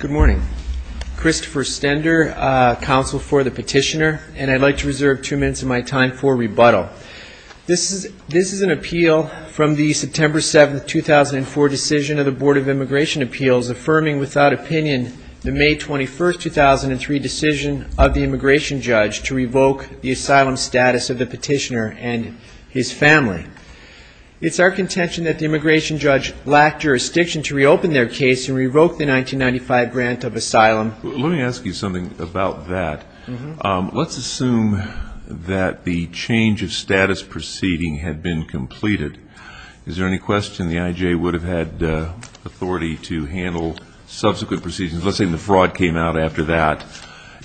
Good morning, Christopher Stender, counsel for the petitioner, and I'd like to reserve two minutes of my time for rebuttal. This is an appeal from the September 7, 2004 decision of the Board of Immigration Appeals affirming without opinion the May 21, 2003 decision of the immigration judge to revoke the asylum status of the petitioner and his family. It's our contention that the immigration judge lacked jurisdiction to reopen their case and revoke the 1995 grant of asylum. Let me ask you something about that. Let's assume that the change of status proceeding had been completed. Is there any question the I.J. would have had authority to handle subsequent proceedings? Let's say the fraud came out after that,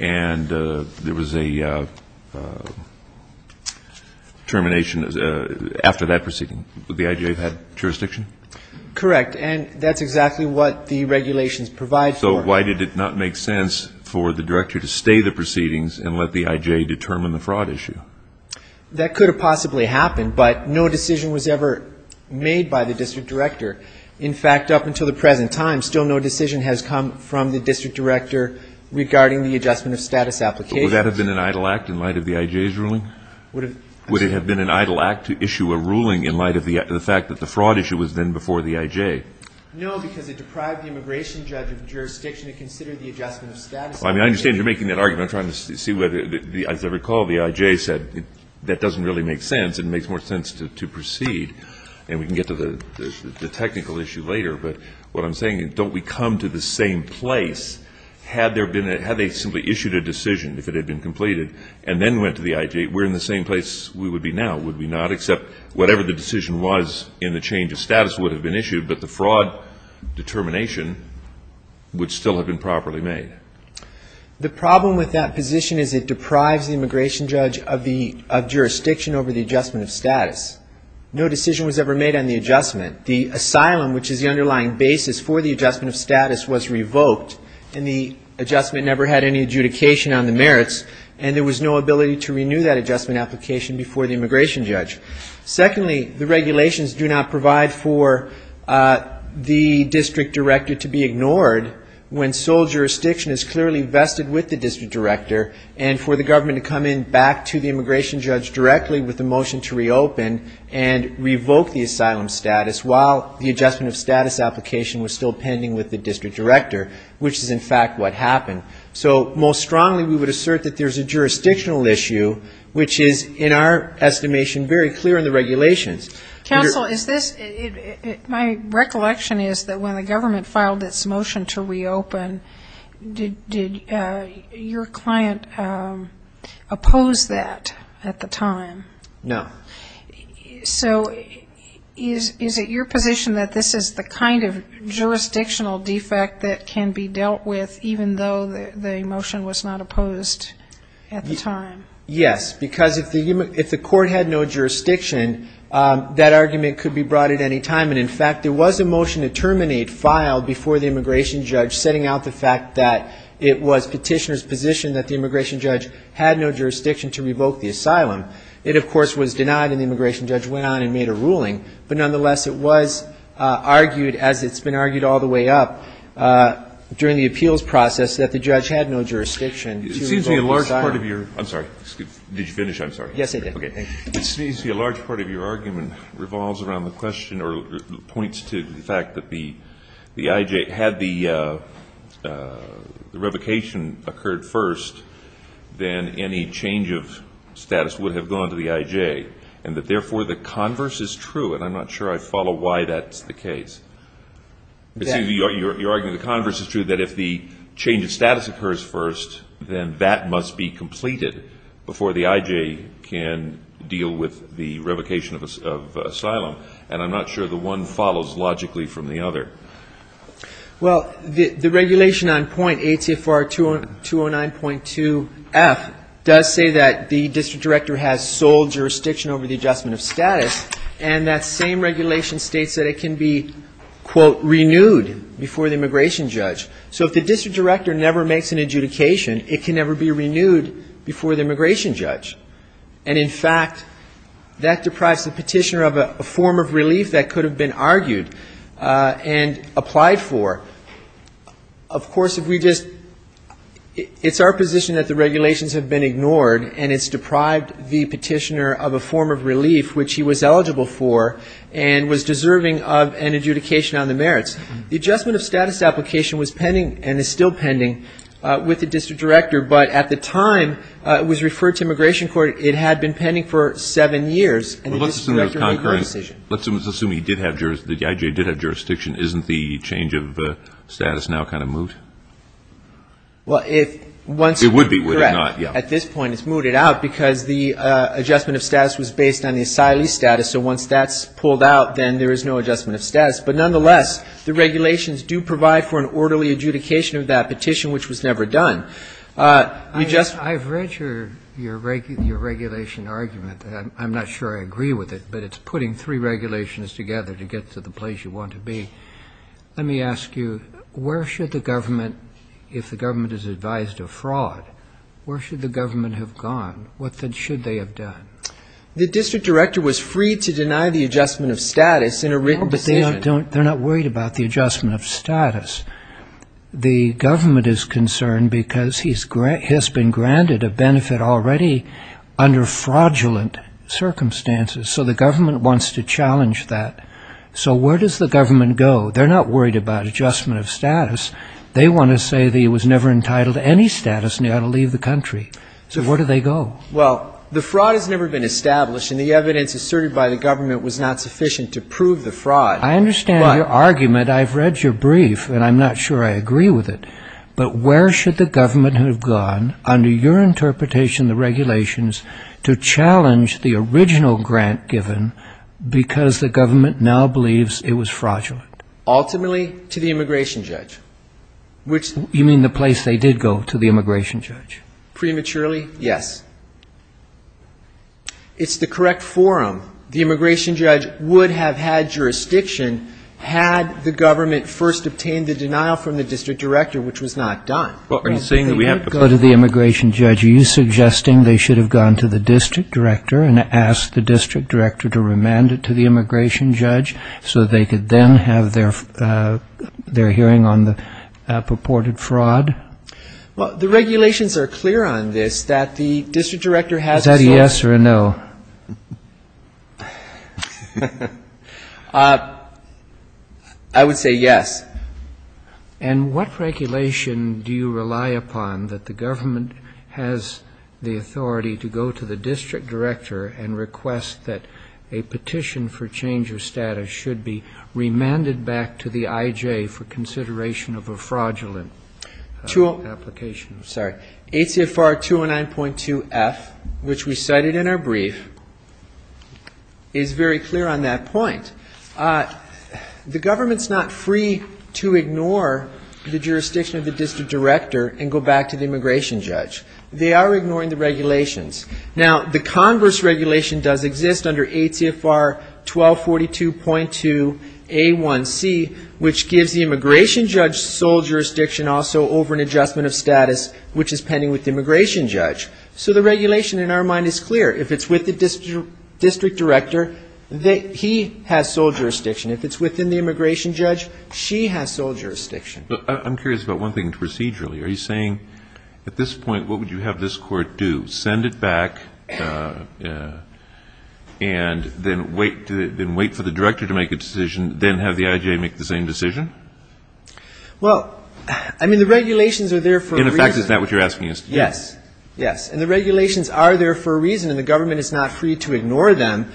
and there was a termination after that proceeding. Would the I.J. have had jurisdiction? Christopher Stender Correct. And that's exactly what the regulations provide for. Christopher Stender So why did it not make sense for the director to stay the proceedings and let the I.J. determine the fraud issue? Christopher Stender That could have possibly happened, but no decision was ever made by the district director. In fact, up until the present time, still no decision has come from the district director regarding the adjustment of status applications. Kennedy Would that have been an idle act in light of the I.J.'s ruling? Christopher Stender Would have Kennedy Would it have been an idle act to issue a ruling in light of the fact that the fraud issue was then before the I.J.? Christopher Stender No, because it deprived the immigration judge of jurisdiction to consider the adjustment of status of the petitioner. Kennedy Well, I mean, I understand you're making that argument. I'm trying to see whether, as I recall, the I.J. said, that doesn't really make sense. It makes more sense to proceed, and we can get to the technical issue later. But what I'm saying is, don't we come to the same place? Had they simply issued a decision, if it had been completed, and then went to the I.J., we're in the same place we would be now, would we not? Except whatever the decision was in the change of status would have been issued, but the fraud determination would still have been properly made. Christopher Stender The problem with that position is it deprives the immigration judge of jurisdiction over the adjustment of status. No decision was ever made on the adjustment. The asylum, which is the underlying basis for the adjustment of status, was revoked, and the adjustment never had any adjudication on the merits, and there was no ability to renew that adjustment application before the immigration judge. Secondly, the regulations do not provide for the district director to be ignored when sole jurisdiction is clearly vested with the district director, and for the government to come in back to the immigration judge directly with a motion to reopen and revoke the asylum status while the adjustment of status application was still pending with the district director, which is in fact what happened. So most strongly we would assert that there's a jurisdictional issue, which is in our estimation very clear in the regulations. Katherian Roe Counsel, my recollection is that when the government filed its motion to reopen, did your client oppose that at the time? Christopher Stender No. Katherian Roe So is it your position that this is the kind of jurisdictional defect that can be dealt with even though the motion was not opposed at the time? Christopher Stender Yes, because if the court had no jurisdiction, that argument could be brought at any time, and in fact there was a motion to terminate filed before the immigration judge setting out the fact that it was petitioner's position that the immigration judge had no jurisdiction to revoke the asylum. It, of course, was denied and the immigration judge went on and made a ruling, but nonetheless it was argued, as it's been argued all the way up during the appeals process, that the judge had no jurisdiction to revoke the asylum. Alito It seems to me a large part of your ‑‑ I'm sorry. Did you finish? I'm sorry. Christopher Stender Yes, I did. Alito Okay. It seems to me a large part of your argument revolves around the question or points to the fact that the IJ had the revocation occurred first, then any change of status would have gone to the IJ, and that therefore the converse is true, and I'm not sure I follow why that's the case. You're arguing the converse is true, that if the change of status occurs first, then that must be completed before the IJ can deal with the revocation of asylum, and I'm not sure the one follows logically from the other. Christopher Stender Well, the regulation on point, ATFR 209.2 F, does say that the district director has sole jurisdiction over the adjustment of status, and that same regulation states that it can be, quote, renewed before the immigration judge. So if the district director never makes an adjudication, it can never be renewed before the immigration judge, and in fact, that deprives the petitioner of a form of relief that could have been argued and applied for. Of course, if we just, it's our position that the regulations have been ignored, and it's deprived the petitioner of a form of relief which he was eligible for and was deserving of an adjudication on the merits. The adjustment of status application was pending and is still pending with the district director, but at the time it was referred to immigration court, it had been pending for seven years. And the district director made no decision. Kennedy Let's assume he did have jurisdiction, the I.J. did have jurisdiction. Isn't the change of status now kind of moot? Christopher Stender Well, if once we've been correct, at this point it's mooted out because the adjustment of status was based on the asylee's status, so once that's pulled out, then there is no adjustment of status. But nonetheless, the regulations do provide for an orderly adjudication of that petition, which was never done. You just ---- Your regulation argument, I'm not sure I agree with it, but it's putting three regulations together to get to the place you want to be. Let me ask you, where should the government, if the government is advised of fraud, where should the government have gone? What then should they have done? Christopher Stender The district director was free to deny the adjustment of status in a written decision. I.J. Blankfein No, but they're not worried about the adjustment of status. The government is concerned because he has been granted a benefit already under fraudulent circumstances, so the government wants to challenge that. So where does the government go? They're not worried about adjustment of status. They want to say that he was never entitled to any status and he ought to leave the country. So where do they go? Christopher Stender Well, the fraud has never been established, and the evidence asserted by the government was not sufficient to prove the fraud. I.J. Blankfein I understand your argument. I've read your brief, and I'm not sure I agree with it. But where should the government have gone, under your interpretation of the regulations, to challenge the original grant given because the government now believes it was fraudulent? Christopher Stender Ultimately, to the immigration judge, which the ---- I.J. Blankfein You mean the place they did go, to the immigration judge? Christopher Stender Prematurely, yes. It's the correct forum. The immigration judge would have had jurisdiction had the government first obtained the denial from the district director, which was not done. I.J. Blankfein Are you saying that we have to go to the immigration judge? Are you suggesting they should have gone to the district director and asked the district director to remand it to the immigration judge so that they could then have their hearing on the purported fraud? Christopher Stender Well, the regulations are clear on this, that the district director has a source ---- I.J. Blankfein I would say yes. Roberts Cotter And what regulation do you rely upon that the government has the authority to go to the district director and request that a petition for change of status should be remanded back to the I.J. for consideration of a fraudulent application? Christopher Stender ATFR 209.2F, which we cited in our brief, is very clear on that point. The government is not free to ignore the jurisdiction of the district director and go back to the immigration judge. They are ignoring the regulations. Now, the Congress regulation does exist under ATFR 1242.2A1C, which gives the immigration judge sole jurisdiction also over an adjustment of status, which is pending with the immigration judge. So the regulation in our mind is clear. If it's with the district director, he has sole jurisdiction. If it's within the immigration judge, she has sole jurisdiction. Roberts Cotter I'm curious about one thing procedurally. Are you saying at this point, what would you have this court do, send it back and then wait for the director to make a decision, then have the I.J. make the same decision? Christopher Stender Well, I mean, the regulations are there for a reason. Roberts Cotter In effect, is that what you're asking us to do? Christopher Stender No, I'm just saying that the government is not free to ignore them.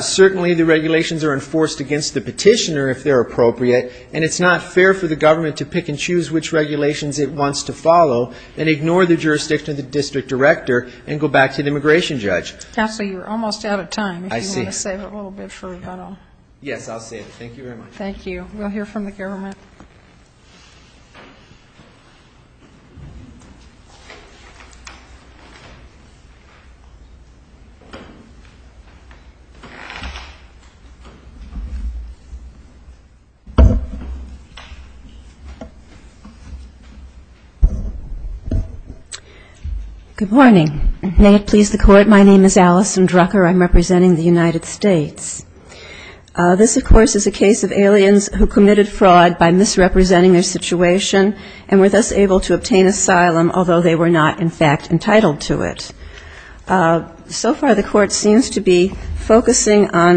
Certainly, the regulations are enforced against the petitioner, if they're appropriate, and it's not fair for the government to pick and choose which regulations it wants to follow and ignore the jurisdiction of the district director and go back to the immigration judge. Roberts Cotter Counselor, you're almost out of time. Christopher Stender I see. Roberts Cotter If you want to save it a little bit. Christopher Stender Yes, I'll save it. Thank you very much. Roberts Cotter Thank you. We'll hear from the government. Dr. Alison Drucker Good morning. May it please the Court, my name is Alison Drucker. I'm representing the United States. This, of course, is a situation and were thus able to obtain asylum, although they were not, in fact, entitled to it. So far, the court seems to be focusing on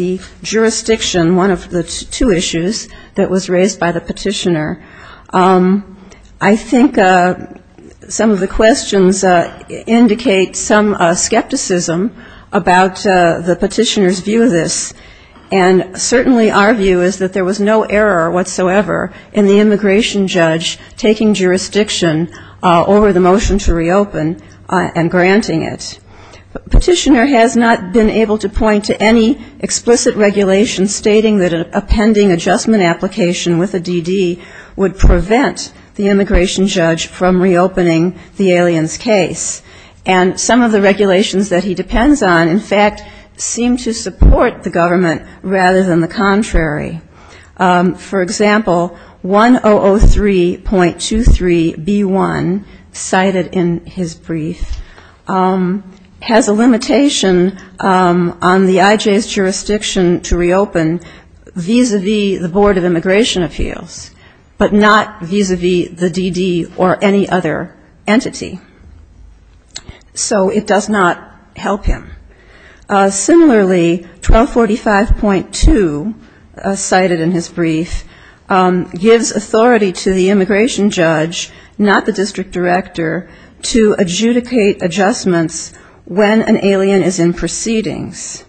the jurisdiction, one of the two issues, that was raised by the petitioner. I think some of the questions indicate some skepticism about the petitioner's view of this, and certainly our view is that there was no error whatsoever in the immigration judge taking jurisdiction over the motion to reopen and granting it. Petitioner has not been able to point to any explicit regulation stating that a pending adjustment application with a DD would prevent the immigration judge from reopening the aliens case. And some of the regulations that he depends on, in fact, seem to support the government rather than the contrary. For example, 1003.23B1, cited in his brief, has a limitation on the IJ's jurisdiction to reopen vis-a-vis the Board of Immigration Appeals, but not vis-a-vis the DD or any other entity. So it does not help him. Similarly, 1245.2, cited in his brief, gives authority to the immigration judge, not the district director, to adjudicate adjustments when an alien is in proceedings.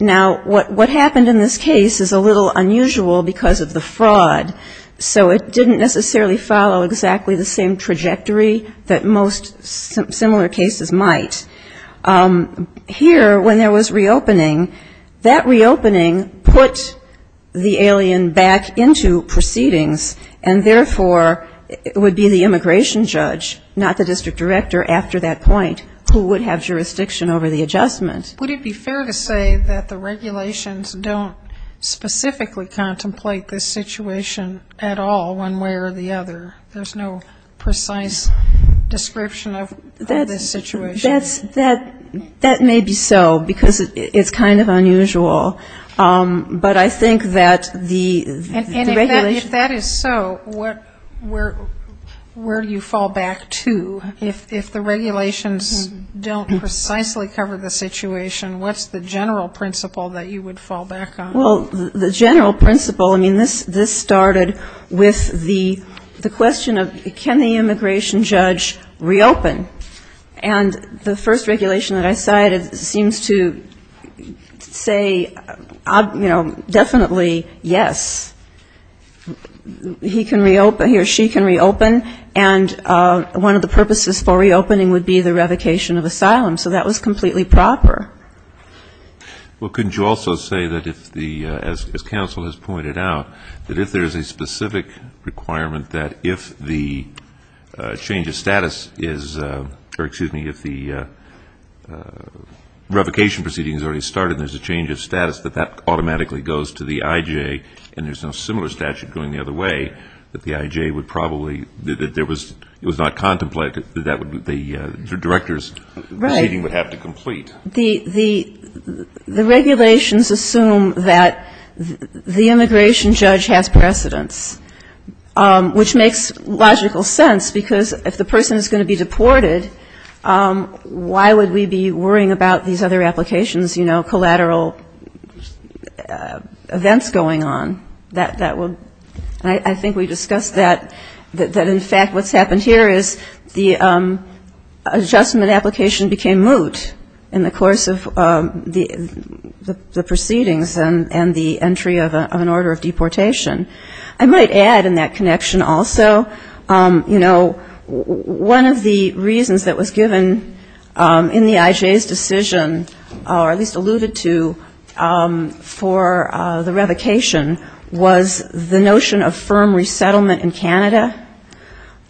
Now, what happened in this case is a little unusual because of the fraud. So it didn't necessarily follow exactly the same trajectory that most similar cases might. Here, when there was reopening, that reopening put the alien back into proceedings, and therefore, it would be the immigration judge, not the district director after that point, who would have jurisdiction over the adjustment. And would it be fair to say that the regulations don't specifically contemplate this situation at all, one way or the other? There's no precise description of this situation? That may be so, because it's kind of unusual. But I think that the regulation ‑‑ Well, the general principle, I mean, this started with the question of can the immigration judge reopen? And the first regulation that I cited seems to say, you know, definitely, yes. He can reopen, he or she can reopen, and one of the purposes for reopening would be the revocation of asylum. So that was completely proper. Well, couldn't you also say that if the ‑‑ as counsel has pointed out, that if there's a specific requirement that if the change of status is ‑‑ or excuse me, if the revocation proceeding has already started and there's a change of status, that that automatically goes to the IJ, and there's no similar statute going the other way, that the IJ would probably ‑‑ that there was ‑‑ it was not contemplated that that would be the director's proceeding would have to complete? Right. The regulations assume that the immigration judge has precedence, which makes logical sense, because if the person is going to be deported, why would we be worrying about these other applications, you know, collateral events going on? I think we discussed that, that in fact what's happened here is the adjustment application became moot in the course of the proceedings, and the entry of an order of deportation. I might add in that connection also, you know, one of the reasons that was given in the IJ's decision, or at least alluded to, for the revocation was the notion of firm resettlement in Canada.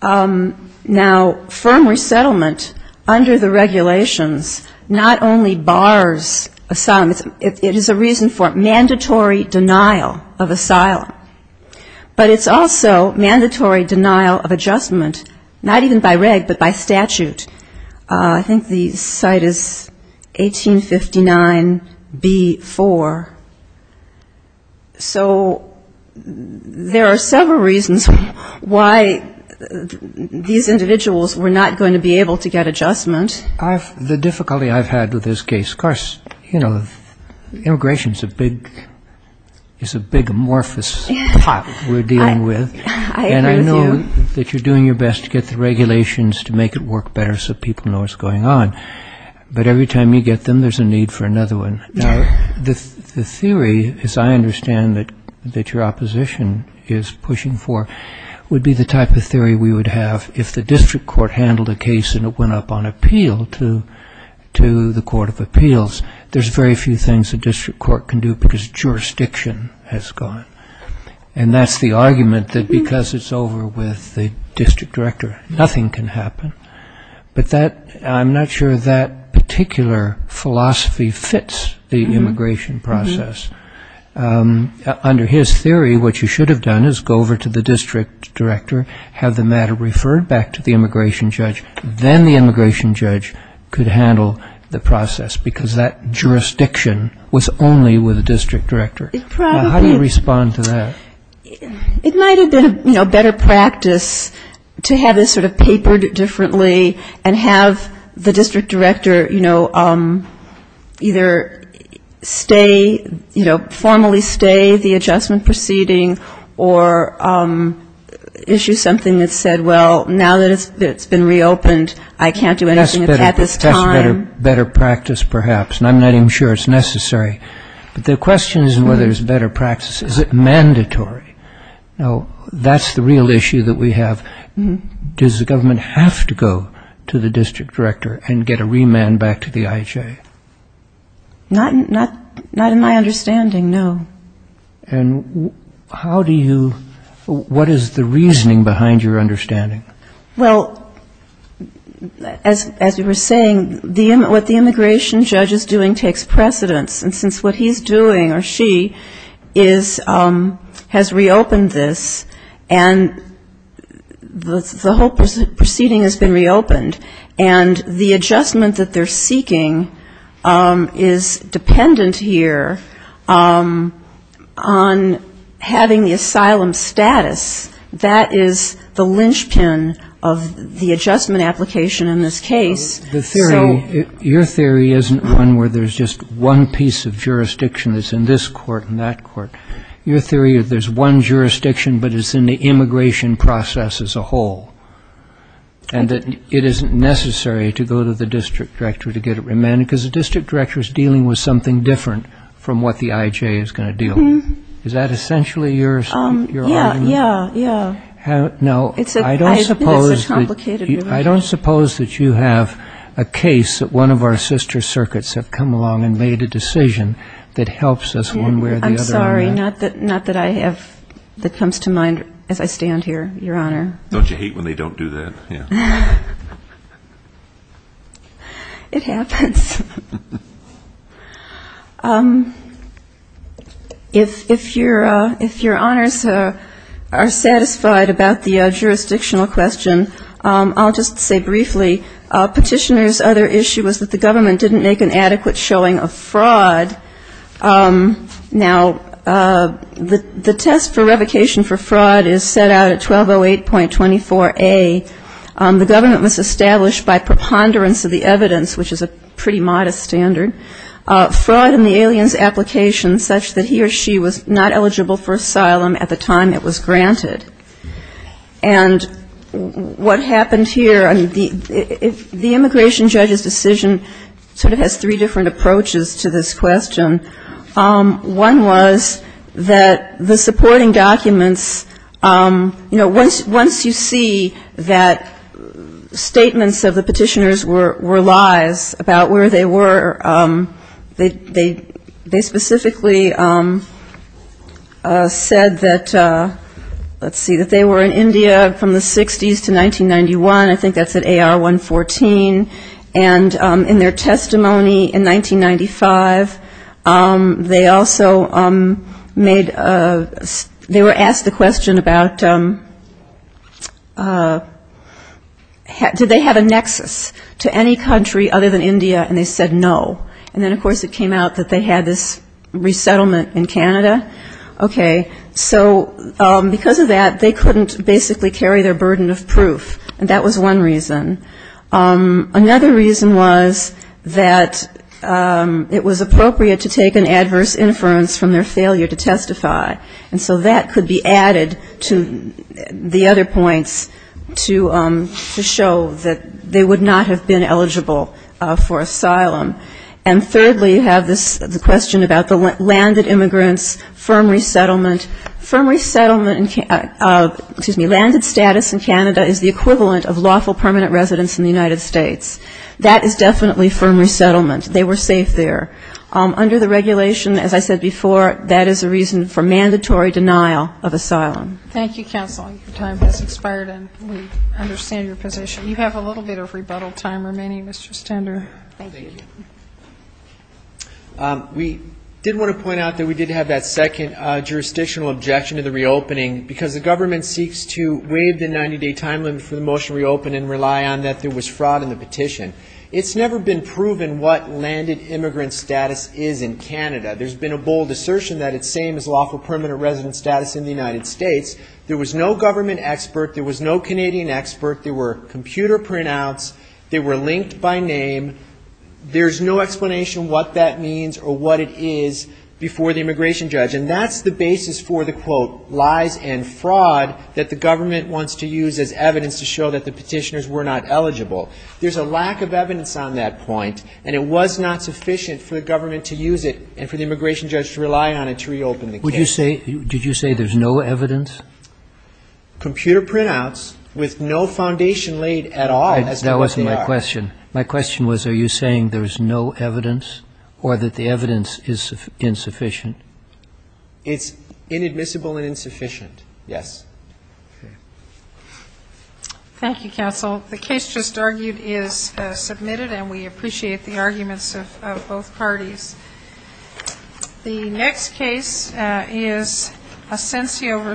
Now, firm resettlement under the regulations not only bars asylum, it is a reason for mandatory denial of asylum, but it's also mandatory denial of adjustment, not even by reg, but by statute. I think the site is 1859B4. So there are several reasons why these individuals were not going to be able to get adjustment. The difficulty I've had with this case, of course, you know, immigration is a big amorphous pot we're dealing with. And I know that you're doing your best to get the regulations to make it work better. So people know what's going on. But every time you get them, there's a need for another one. Now, the theory, as I understand it, that your opposition is pushing for, would be the type of theory we would have. If the district court handled a case and it went up on appeal to the court of appeals, there's very few things a district court can do because jurisdiction has gone. And that's the argument that because it's over with the district director, nothing can happen. But I'm not sure that particular philosophy fits the immigration process. Under his theory, what you should have done is go over to the district director, have the matter referred back to the immigration judge, then the immigration judge could handle the process because that jurisdiction was only with the district director. How do you respond to that? I mean, you can't have the district director, you know, either stay, you know, formally stay the adjustment proceeding or issue something that said, well, now that it's been reopened, I can't do anything at this time. That's better practice, perhaps. And I'm not even sure it's necessary. But the question is whether it's better practice. Is it mandatory? Now, that's the real issue that we have. Does the government have to go to the district director? And get a remand back to the IHA? Not in my understanding, no. And how do you, what is the reasoning behind your understanding? Well, as you were saying, what the immigration judge is doing takes precedence. And since what he's doing or she is, has reopened this, and the whole proceeding has been reopened, it's not just a matter of what the immigration judge is doing. And the adjustment that they're seeking is dependent here on having the asylum status. That is the linchpin of the adjustment application in this case. So the theory, your theory isn't one where there's just one piece of jurisdiction that's in this court and that court. Your theory is there's one jurisdiction, but it's in the immigration process as a whole. And that it isn't necessary to go to the district director to get a remand, because the district director is dealing with something different from what the IHA is going to deal with. Is that essentially your argument? Yeah, yeah, yeah. No, I don't suppose that you have a case that one of our sister circuits have come along and made a decision that helps us one way or the other. Sorry, not that I have, that comes to mind as I stand here, your Honor. Don't you hate when they don't do that? It happens. If your Honors are satisfied about the jurisdictional question, I'll just say briefly, Petitioner's other issue was that the government didn't make an adequate showing of fraud. Now, the test for revocation for fraud is set out at 1208.24a. The government was established by preponderance of the evidence, which is a pretty modest standard. Fraud in the alien's application such that he or she was not eligible for asylum at the time it was granted. And what happened here, the immigration judge's decision sort of has three different approaches to this question. One was that the supporting documents, you know, once you see that statements of the petitioners were lies about where they were, they specifically said that, let's see, that they were in India from the 60s to 1991. I think that's at AR 114. And in their testimony in 1995, they also made, they were asked the question about did they have a nexus to any country other than India, and they said no. And then, of course, it came out that they had this resettlement in Canada. Okay. So because of that, they couldn't basically carry their burden of proof, and that was one reason. Another reason was that it was appropriate to take an adverse inference from their failure to testify. And so that could be added to the other points to show that they would not have been eligible for asylum. And thirdly, you have this question about the landed immigrants, firm resettlement. Firm resettlement, excuse me, landed status in Canada is the equivalent of lawful permanent residence in the United States. That is definitely firm resettlement. They were safe there. Under the regulation, as I said before, that is a reason for mandatory denial of asylum. Thank you, counsel. Your time has expired, and we understand your position. You have a little bit of rebuttal time remaining, Mr. Stender. Thank you. We did want to point out that we did have that second jurisdictional objection to the reopening, because the government seeks to waive the 90-day time limit for the motion to reopen and rely on that there was fraud in the petition. It's never been proven what landed immigrant status is in Canada. There's been a bold assertion that it's the same as lawful permanent residence status in the United States. There was no government expert. There was no Canadian expert. There were computer printouts. They were linked by name. There's no explanation what that means or what it is before the immigration judge. And that's the basis for the, quote, lies and fraud that the government wants to use as evidence to show that the petitioners were not eligible. There's a lack of evidence on that point, and it was not sufficient for the government to use it and for the immigration judge to rely on it to reopen the case. Did you say there's no evidence? Computer printouts with no foundation laid at all as to what they are. That was my question. My question was, are you saying there's no evidence or that the evidence is insufficient? It's inadmissible and insufficient, yes. Thank you, counsel. The case just argued is submitted, and we appreciate the arguments of both parties. The next case is Asensio v. McKaysey.